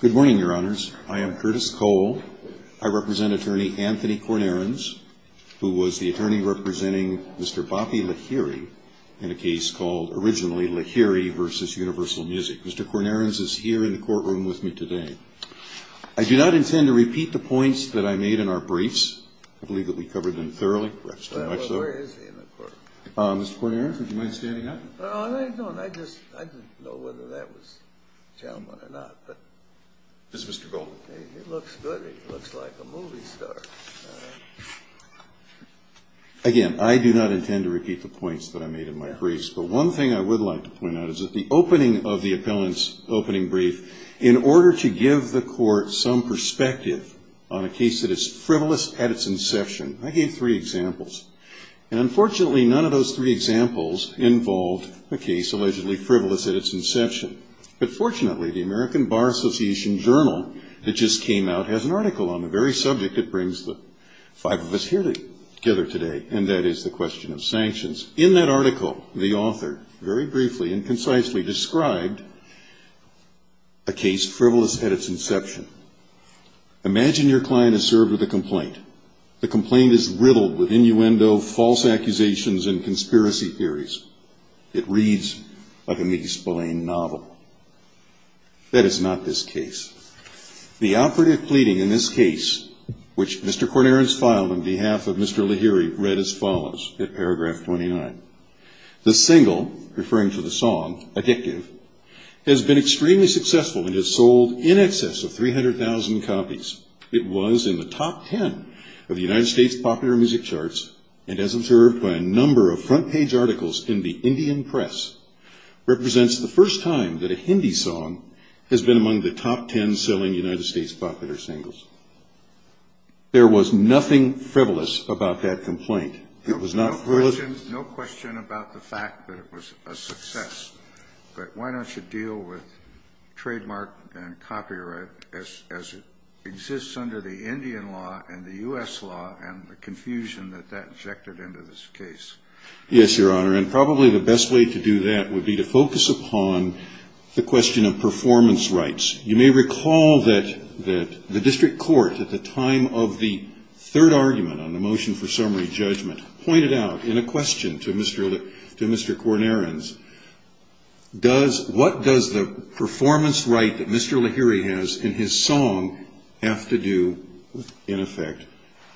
Good morning, your honors. I am Curtis Cole. I represent attorney Anthony Cornerans, who was the attorney representing Mr. Bappi Lahiri in a case called, originally, Lahiri v. Universal Music. Mr. Cornerans is here in the courtroom with me today. I do not intend to repeat the points that I made in our briefs. I believe that we covered them thoroughly. Perhaps too much, though. Well, where is he in the courtroom? Mr. Cornerans, would you mind standing up? No, I don't. I just didn't know whether that was a gentleman or not. This is Mr. Goldman. Hey, he looks good. He looks like a movie star. Again, I do not intend to repeat the points that I made in my briefs. But one thing I would like to point out is that the opening of the appellant's opening brief, in order to give the court some perspective on a case that is frivolous at its inception, I gave three examples. And unfortunately, none of those three examples involved a case allegedly frivolous at its inception. But fortunately, the American Bar Association journal that just came out has an article on the very subject that brings the five of us here together today, and that is the question of sanctions. In that article, the author very briefly and concisely described a case frivolous at its inception. Imagine your client is served with a complaint. The complaint is riddled with innuendo, false accusations, and conspiracy theories. It reads like a misbelieved novel. That is not this case. The operative pleading in this case, which Mr. Cornarens filed on behalf of Mr. Lahiri, read as follows, in paragraph 29. The single, referring to the song, Addictive, has been extremely successful and has sold in excess of 300,000 copies. It was in the top 10 of the United States popular music charts, and as observed by a number of front page articles in the Indian press, represents the first time that a Hindi song has been among the top 10 selling United States popular singles. There was nothing frivolous about that complaint. It was not frivolous. No question about the fact that it was a success, but why don't you deal with trademark and copyright as it exists under the Indian law and the US law and the confusion that that injected into this case? Yes, Your Honor, and probably the best way to do that would be to focus upon the question of performance rights. You may recall that the district court, at the time of the third argument on the motion for summary judgment, pointed out in a question to Mr. Cornarens, what does the performance right that Mr. Lahiri has in his song have to do with, in effect,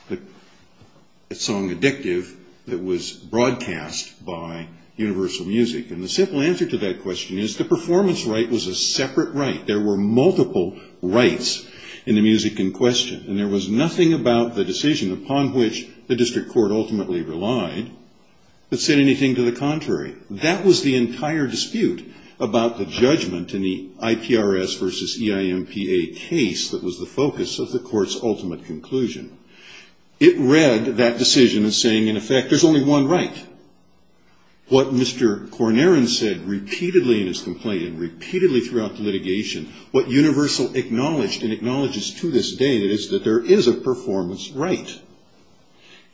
the song Addictive that was broadcast by Universal Music? And the simple answer to that question is the performance right was a separate right. There were multiple rights in the music in question, and there was nothing about the decision upon which the district court ultimately relied that said anything to the contrary. That was the entire dispute about the judgment in the IPRS versus EIMPA case that was the focus of the court's ultimate conclusion. It read that decision as saying, in effect, there's only one right. What Mr. Cornarens said repeatedly in his complaint and repeatedly throughout the litigation, what Universal acknowledged and acknowledges to this day is that there is a performance right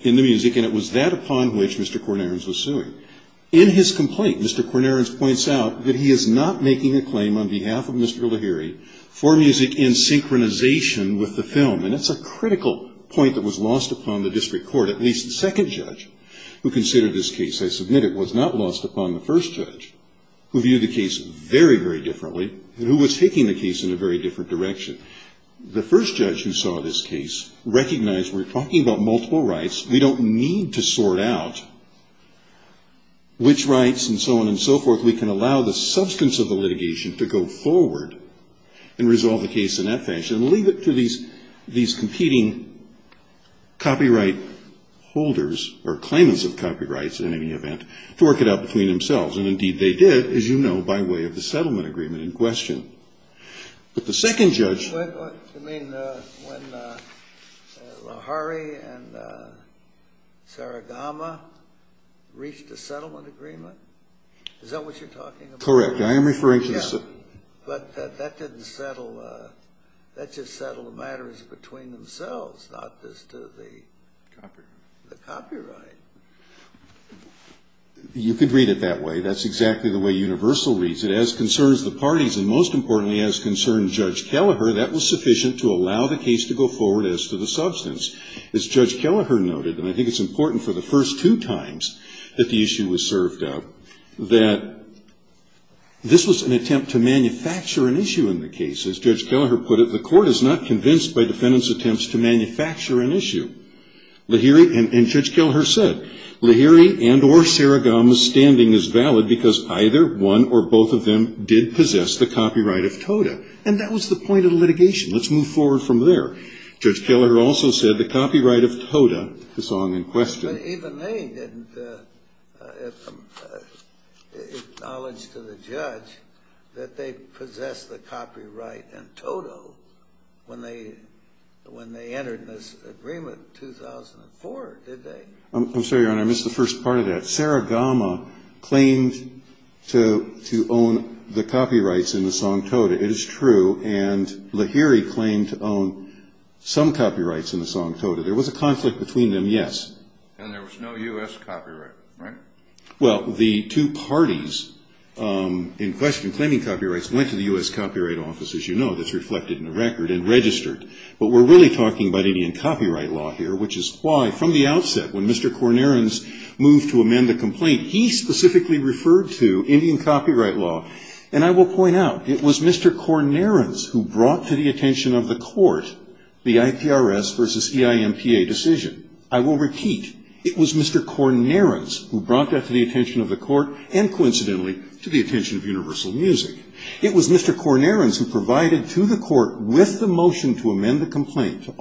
in the music, and it was that upon which Mr. Cornarens was suing. In his complaint, Mr. Cornarens points out that he is not making a claim on behalf of Mr. Lahiri for music in synchronization with the film. And that's a critical point that was lost upon the district court, at least the second judge who considered this case, I submit it, was not lost upon the first judge, who viewed the case very, very differently and who was taking the case in a very different direction. The first judge who saw this case recognized we're talking about multiple rights. We don't need to sort out which rights and so on and so forth. We can allow the substance of the litigation to go forward and resolve the case in that fashion and leave it to these competing copyright holders or claimants of copyrights, in any event, to work it out between themselves. And indeed, they did, as you know, by way of the settlement agreement in question. But the second judge. But you mean when Lahiri and Saragama reached a settlement agreement? Is that what you're talking about? Correct. I am referring to the second. But that didn't settle. That just settled the matters between themselves, not just the copyright. You could read it that way. That's exactly the way Universal reads it. As concerns the parties, and most importantly, as concerns Judge Kelleher, that was sufficient to allow the case to go forward as to the substance. As Judge Kelleher noted, and I think it's important for the first two times that the issue was served up, that this was an attempt to manufacture an issue in the case. As Judge Kelleher put it, the court is not convinced by defendants' attempts to manufacture an issue. And Judge Kelleher said, Lahiri and or Saragama's standing is valid because either one or both of them did possess the copyright of TOTA. And that was the point of the litigation. Let's move forward from there. Judge Kelleher also said the copyright of TOTA is long in question. Even they didn't acknowledge to the judge that they possessed the copyright in TOTA when they entered this agreement in 2004, did they? I'm sorry, Your Honor. I missed the first part of that. Saragama claimed to own the copyrights in the song TOTA. It is true. And Lahiri claimed to own some copyrights in the song TOTA. There was a conflict between them, yes. And there was no US copyright, right? Well, the two parties in question claiming copyrights went to the US Copyright Office, as you know. That's reflected in the record and registered. But we're really talking about Indian copyright law here, which is why, from the outset, when Mr. Cornerans moved to amend the complaint, he specifically referred to Indian copyright law. And I will point out, it was Mr. Cornerans who brought to the attention of the court the IPRS versus EIMPA decision. I will repeat, it was Mr. Cornerans who brought that to the attention of the court and, coincidentally, to the attention of Universal Music. It was Mr. Cornerans who provided to the court with the motion to amend the complaint, to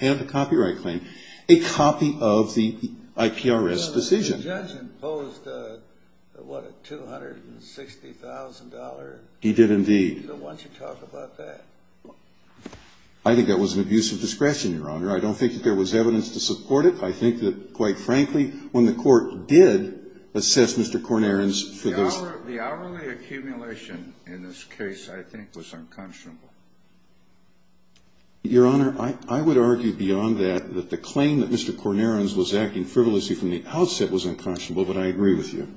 have the copyright claim, a copy of the IPRS decision. The judge imposed, what, a $260,000? He did, indeed. Why don't you talk about that? I think that was an abuse of discretion, Your Honor. I don't think that there was evidence to support it. I think that, quite frankly, when the court did assess Mr. Cornerans for this. The hourly accumulation in this case, I think, was unconscionable. Your Honor, I would argue beyond that that the claim that Mr. Cornerans was acting frivolously from the outset was unconscionable, but I agree with you.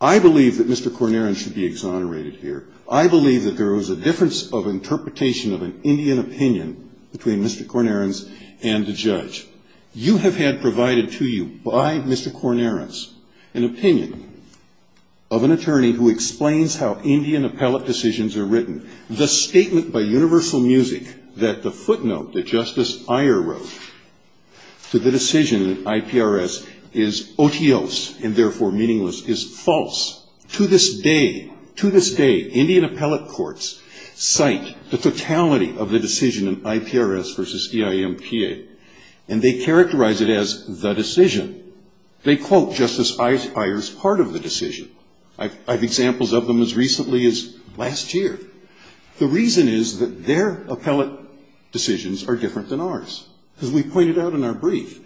I believe that Mr. Cornerans should be exonerated here. I believe that there was a difference of interpretation of an Indian opinion between Mr. Cornerans and the judge. You have had provided to you by Mr. Cornerans an opinion of an attorney who explains how Indian appellate decisions are written. The statement by Universal Music that the footnote that Justice Iyer wrote to the decision in IPRS is otios, and therefore meaningless, is false. To this day, to this day, Indian appellate courts cite the totality of the decision in IPRS versus EIMPA, and they characterize it as the decision. They quote Justice Iyer's part of the decision. I have examples of them as recently as last year. The reason is that their appellate decisions are different than ours, as we pointed out in our brief.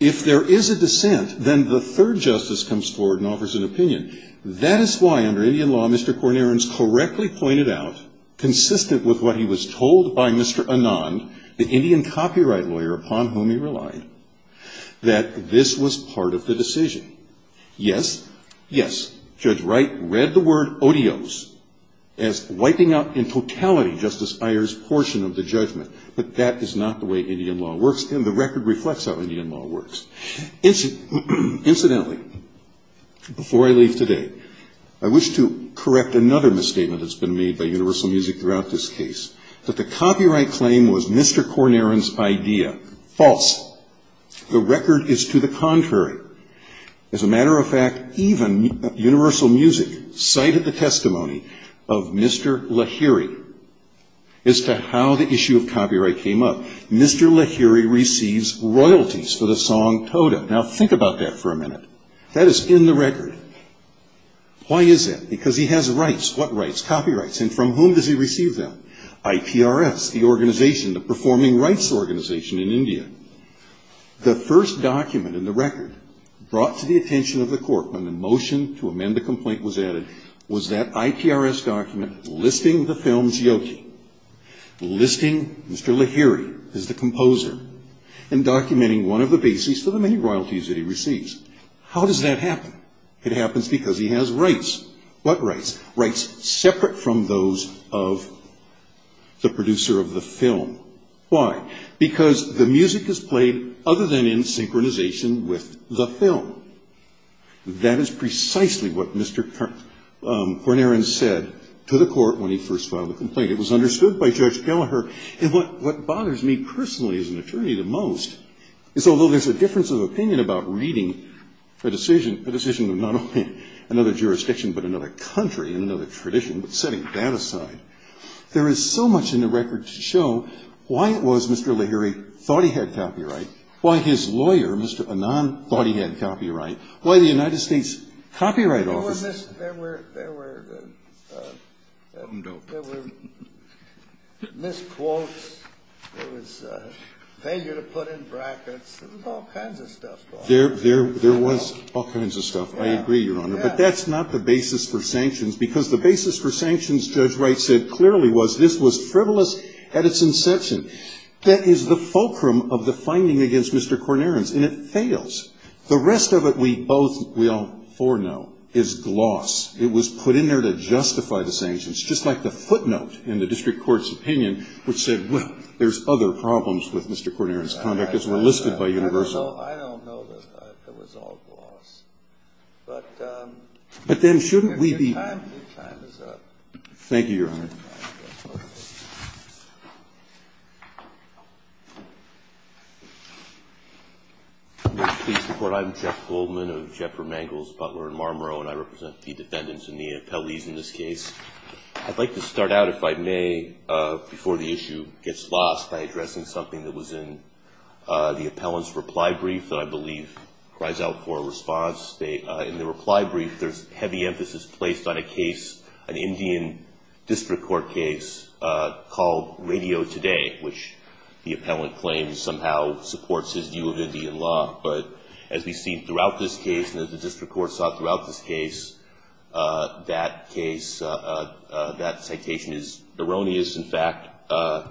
If there is a dissent, then the third justice comes forward and offers an opinion. That is why, under Indian law, Mr. Cornerans correctly pointed out, consistent with what he was told by Mr. Anand, the Indian copyright lawyer upon whom he relied, that this was part of the decision. Yes, yes, Judge Wright read the word otios as wiping out in totality Justice Iyer's portion of the judgment. But that is not the way Indian law works, and the record reflects how Indian law works. Incidentally, before I leave today, I wish to correct another misstatement that's been made by Universal Music throughout this case, that the copyright claim was Mr. Corneran's idea. False. The record is to the contrary. As a matter of fact, even Universal Music cited the testimony of Mr. Lahiri as to how the issue of copyright came up. Mr. Lahiri receives royalties for the song Tota. Now think about that for a minute. That is in the record. Why is it? Because he has rights. What rights? Copyrights. And from whom does he receive them? IPRS, the organization, the Performing Rights Organization in India. The first document in the record brought to the attention of the court when the motion to amend the complaint was added was that IPRS document listing the film's Yogi, listing Mr. Lahiri as the composer, and documenting one of the bases for the many royalties that he receives. How does that happen? It happens because he has rights. What rights? Rights separate from those of the producer of the film. Why? Because the music is played other than in synchronization with the film. That is precisely what Mr. Cornaren said to the court when he first filed the complaint. It was understood by Judge Gellagher. And what bothers me personally as an attorney the most is although there's a difference of opinion about reading a decision of not only another jurisdiction, but another country, and another tradition, but setting that aside, there is so much in the record to show why it was Mr. Lahiri thought he had copyright, why his lawyer, Mr. Anand, thought he had copyright, why the United States Copyright Office. There were misquotes. There was failure to put in brackets. There was all kinds of stuff going on. There was all kinds of stuff. I agree, Your Honor. But that's not the basis for sanctions. Because the basis for sanctions, Judge Wright said clearly, was this was frivolous at its inception. That is the fulcrum of the finding against Mr. Cornaren's. And it fails. The rest of it, we all foreknow, is gloss. It was put in there to justify the sanctions, just like the footnote in the district court's opinion, which said, well, there's other problems with Mr. Cornaren's conduct, as were listed by Universal. I don't know that it was all gloss. But then shouldn't we be? Your time is up. Thank you, Your Honor. May I please report? I'm Jeff Goldman of Jeffer Mangels, Butler, and Marmoreau. And I represent the defendants and the appellees in this case. I'd like to start out, if I may, before the issue gets lost by addressing something that was in the appellant's reply brief that I believe cries out for a response. In the reply brief, there's heavy emphasis placed on a case, an Indian district court case, called Radio Today, which the appellant claims somehow supports his view of Indian law. But as we've seen throughout this case, and as the district court saw throughout this case, that case, that citation is erroneous. In fact, on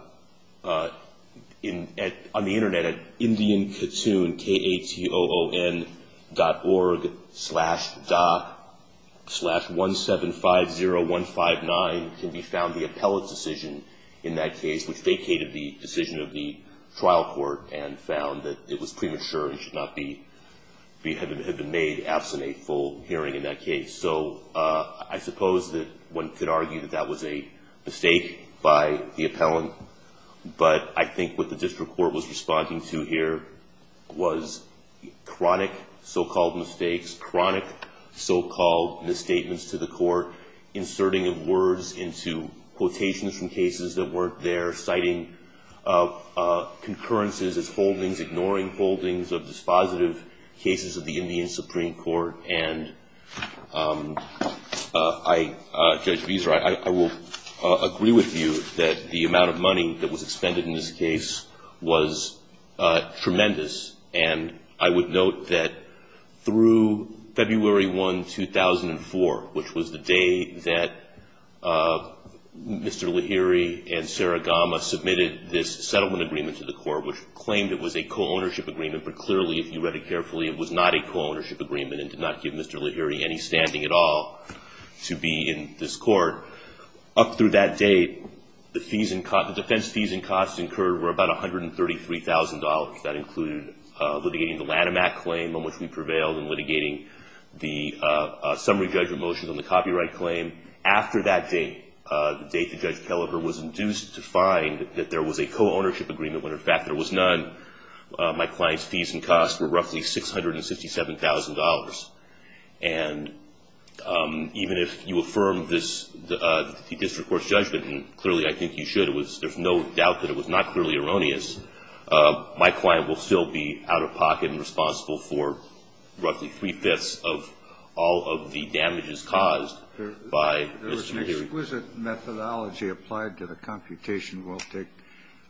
the internet, at IndianKatoon, K-A-T-O-O-N, dot org, slash dot, slash 1-7-5-0-1-5-9, can be found the appellant's decision in that case, which vacated the decision of the trial court and found that it was premature and should not have been made absent a full hearing in that case. So I suppose that one could argue that that was a mistake by the appellant. But I think what the district court was responding to here was chronic so-called mistakes, chronic so-called misstatements to the court, inserting of words into quotations from cases that weren't there, citing concurrences as holdings, ignoring holdings of dispositive cases of the Indian Supreme Court. And Judge Beeser, I will agree with you that the amount of money that was expended in this case was tremendous. And I would note that through February 1, 2004, which was the day that Mr. Lahiri and Sarah Gama submitted this settlement agreement to the court, which claimed it was a co-ownership agreement, but clearly, if you read it carefully, it was not a co-ownership agreement and did not give Mr. Lahiri any standing at all to be in this court. Up through that date, the defense fees and costs incurred were about $133,000. That included litigating the Lanham Act claim, on which we prevailed, and litigating the summary judgment motions on the copyright claim. After that date, the date that Judge Kelleher was induced to find that there was a co-ownership agreement when, in fact, there was none, my client's fees and costs were roughly $657,000. And even if you affirm the district court's judgment, and clearly, I think you should, there's no doubt that it was not clearly erroneous, my client will still be out of pocket and responsible for roughly 3 5ths of all of the damages caused by Mr. Lahiri. There was an exquisite methodology applied to the computation. We'll take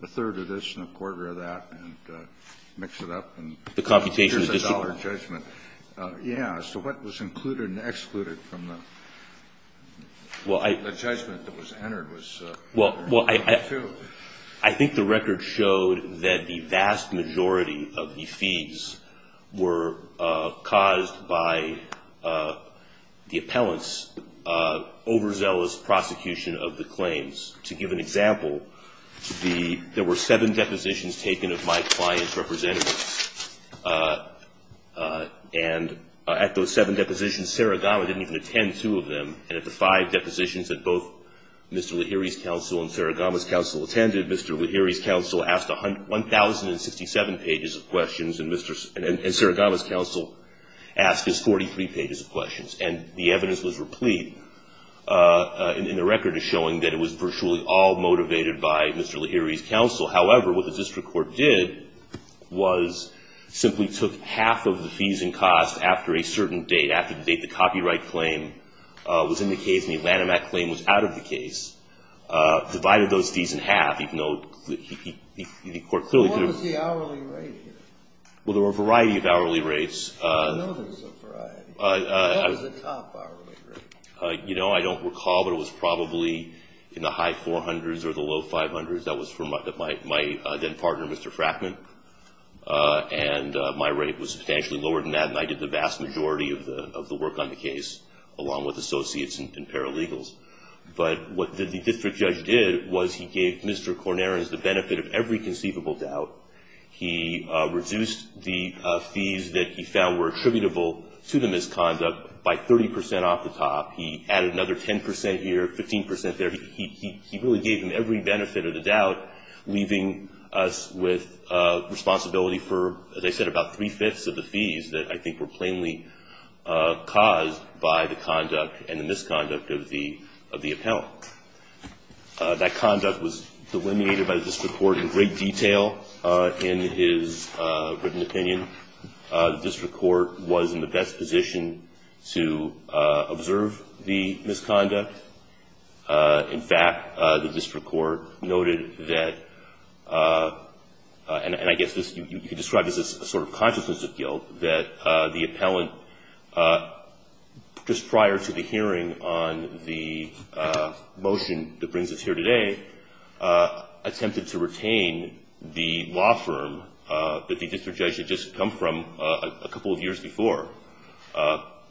a third of this and a quarter of that and mix it up. The computation is just a dollar judgment. Yeah, so what was included and excluded from the judgment that was entered was a dollar or two. I think the record showed that the vast majority of the fees were caused by the appellant's overzealous prosecution of the claims. To give an example, there were seven depositions taken of my client's representatives. And at those seven depositions, Saragama didn't even attend two of them. And at the five depositions that both Mr. Lahiri's counsel and Saragama's counsel attended, Mr. Lahiri's counsel asked 1,067 pages of questions, and Saragama's counsel asked his 43 pages of questions. And the evidence was replete, and the record is showing that it was virtually all motivated by Mr. Lahiri's counsel. However, what the district court did was simply took half of the fees and costs after a certain date, after the date the copyright claim was in the case and the Lanham Act claim was out of the case, divided those fees in half. The court clearly could have. What was the hourly rate here? Well, there were a variety of hourly rates. I know there was a variety. What was the top hourly rate? I don't recall, but it was probably in the high 400s or the low 500s. That was for my then partner, Mr. Frackman. And my rate was substantially lower than that, and I did the vast majority of the work on the case, along with associates and paralegals. But what the district judge did was he gave Mr. Corneras the benefit of every conceivable doubt. He reduced the fees that he found were attributable to the misconduct by 30% off the top. He added another 10% here, 15% there. He really gave him every benefit of the doubt, leaving us with responsibility for, as I said, about 3 fifths of the fees that I think were plainly caused by the conduct and the misconduct of the appellant. That conduct was delineated by the district court in great detail in his written opinion. The district court was in the best position to observe the misconduct. In fact, the district court noted that, and I guess you could describe this as a sort of consciousness of guilt, that the appellant, just prior to the hearing on the motion that brings us here today, attempted to retain the law firm that the district judge had just come from a couple of years before,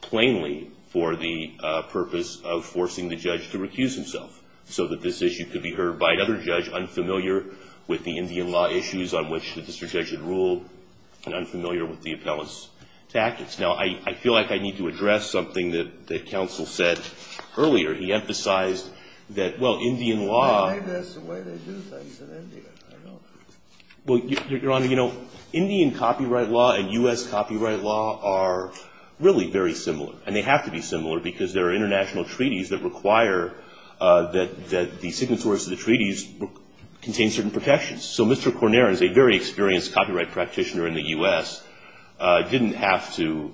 plainly for the purpose of forcing the judge to recuse himself, so that this issue could be heard by another judge unfamiliar with the Indian law issues on which the district judge had ruled and unfamiliar with the appellant's tactics. Now, I feel like I need to address something that the counsel said earlier. He emphasized that, well, Indian law. I think that's the way they do things in India. Well, Your Honor, you know, Indian copyright law and US copyright law are really very similar. And they have to be similar, because there are international treaties that require that the signatories of the treaties contain certain protections. So Mr. Corner, as a very experienced copyright practitioner in the US, didn't have to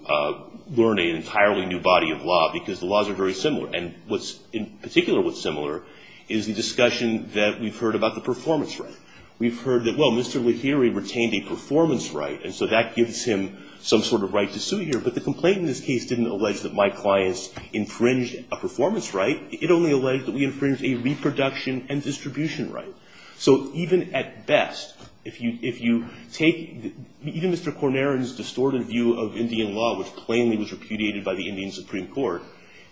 learn an entirely new body of law, because the laws are very similar. And what's in particular what's similar is the discussion that we've heard about the performance right. We've heard that, well, Mr. Lahiri retained a performance right. And so that gives him some sort of right to sue here. But the complaint in this case didn't allege that my clients infringed a performance right. It only alleged that we infringed a reproduction and distribution right. So even at best, if you take even Mr. Corner's distorted view of Indian law, which plainly was repudiated by the Indian Supreme Court,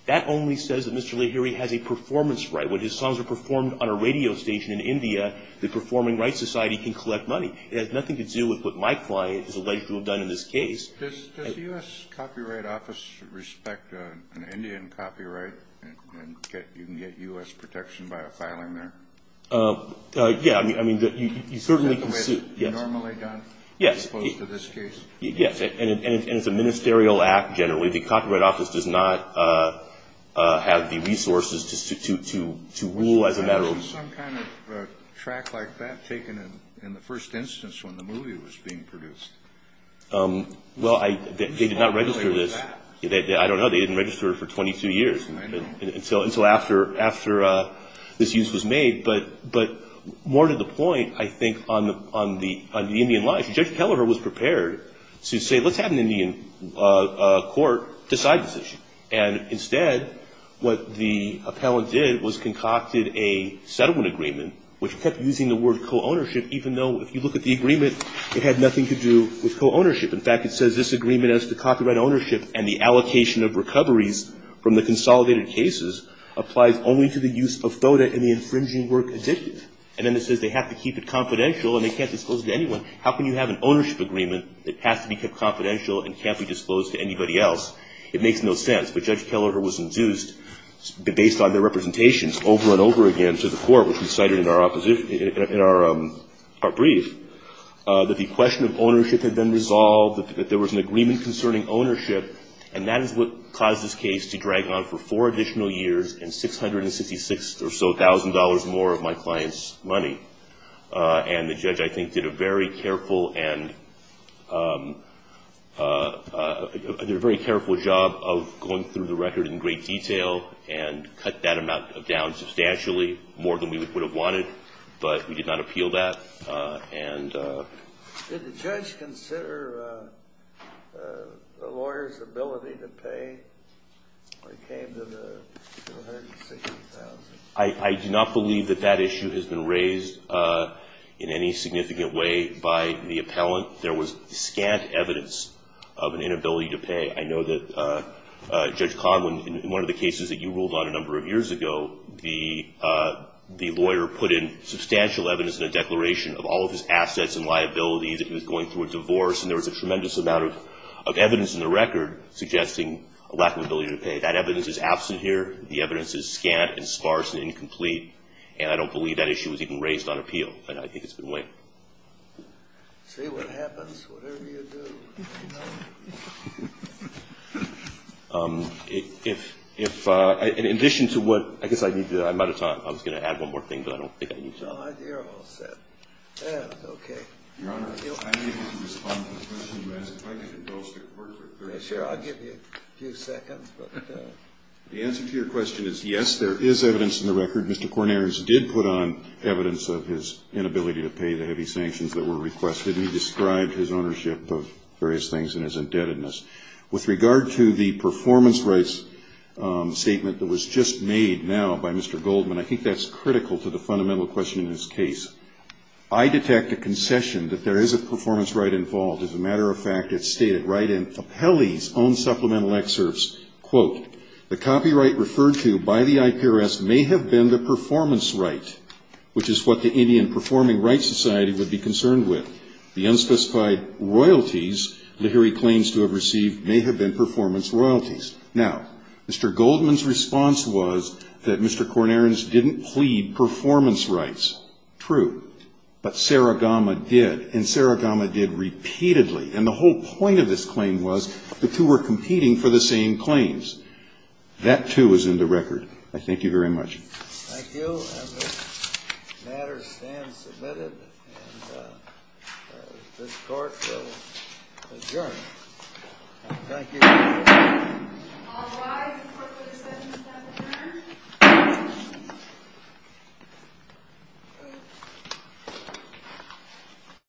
that only says that Mr. Lahiri has a performance right. When his songs are performed on a radio station in India, the Performing Rights Society can collect money. It has nothing to do with what my client is alleged to have done in this case. Does the US Copyright Office respect an Indian copyright? You can get US protection by a filing there? Yeah, I mean, you certainly can sue. Is that the way it's normally done, as opposed to this case? Yes, and it's a ministerial act, generally. The Copyright Office does not have the resources to rule as a matter of use. Was there some kind of track like that taken in the first instance when the movie was being produced? Well, they did not register this. I don't know. They didn't register it for 22 years, until after this use was made. But more to the point, I think, on the Indian life, Judge Kelleher was prepared to say, let's have an Indian court decide this issue. And instead, what the appellant did was concocted a settlement agreement, which kept using the word co-ownership, even though, if you look at the agreement, it had nothing to do with co-ownership. In fact, it says, this agreement as to copyright ownership and the allocation of recoveries from the consolidated cases applies only to the use of FODA in the infringing work addictive. And then it says they have to keep it confidential, and they can't disclose it to anyone. How can you have an ownership agreement that has to be kept confidential and can't be disclosed to anybody else? It makes no sense. But Judge Kelleher was induced, based on their representations over and over again to the court, which we cited in our brief, that the question of ownership had been resolved, that there was an agreement concerning ownership. And that is what caused this case to drag on for four additional years and $666,000 or so more of my client's money. And the judge, I think, did a very careful and very careful job of going through the record in great detail and cut that amount down substantially, more than we would have wanted. But we did not appeal that. And did the judge consider the lawyer's ability to pay when it came to the $666,000? I do not believe that that issue has been raised in any significant way by the appellant. There was scant evidence of an inability to pay. I know that Judge Conlon, in one of the cases that you ruled on a number of years ago, the lawyer put in substantial evidence in a declaration of all of his assets and liabilities that he was going through a divorce. And there was a tremendous amount of evidence in the record suggesting a lack of ability to pay. That evidence is absent here. The evidence is scant and sparse and incomplete. And I don't believe that issue was even raised on appeal. And I think it's been weighed. Say what happens, whatever you do. If, in addition to what, I guess I need to, I might have thought I was going to add one more thing, but I don't think I need to. Oh, dear, I'm all set. Yeah, OK. Your Honor, I'm able to respond to the question you asked. If I could indulge the court for 30 seconds. Sure, I'll give you a few seconds. The answer to your question is yes, there is evidence in the record. Mr. Cornelius did put on evidence of his inability to pay the heavy sanctions that were requested. And he described his ownership of various things and his indebtedness. With regard to the performance rights statement that was just made now by Mr. Goldman, I think that's critical to the fundamental question in this case. I detect a concession that there is a performance right involved. As a matter of fact, it's stated right in Fappelli's own supplemental excerpts. Quote, the copyright referred to by the IPRS may have been the performance right, which is what the Indian Performing Rights Society would be concerned with. The unspecified royalties Lihiri claims to have received may have been performance royalties. Now, Mr. Goldman's response was that Mr. Cornelius didn't plead performance rights. True. But Saragamma did. And Saragamma did repeatedly. And the whole point of this claim was the two were competing for the same claims. That, too, is in the record. I thank you very much. Thank you. And this matter stands submitted. And this court will adjourn. Thank you. All rise for the discussion of that matter.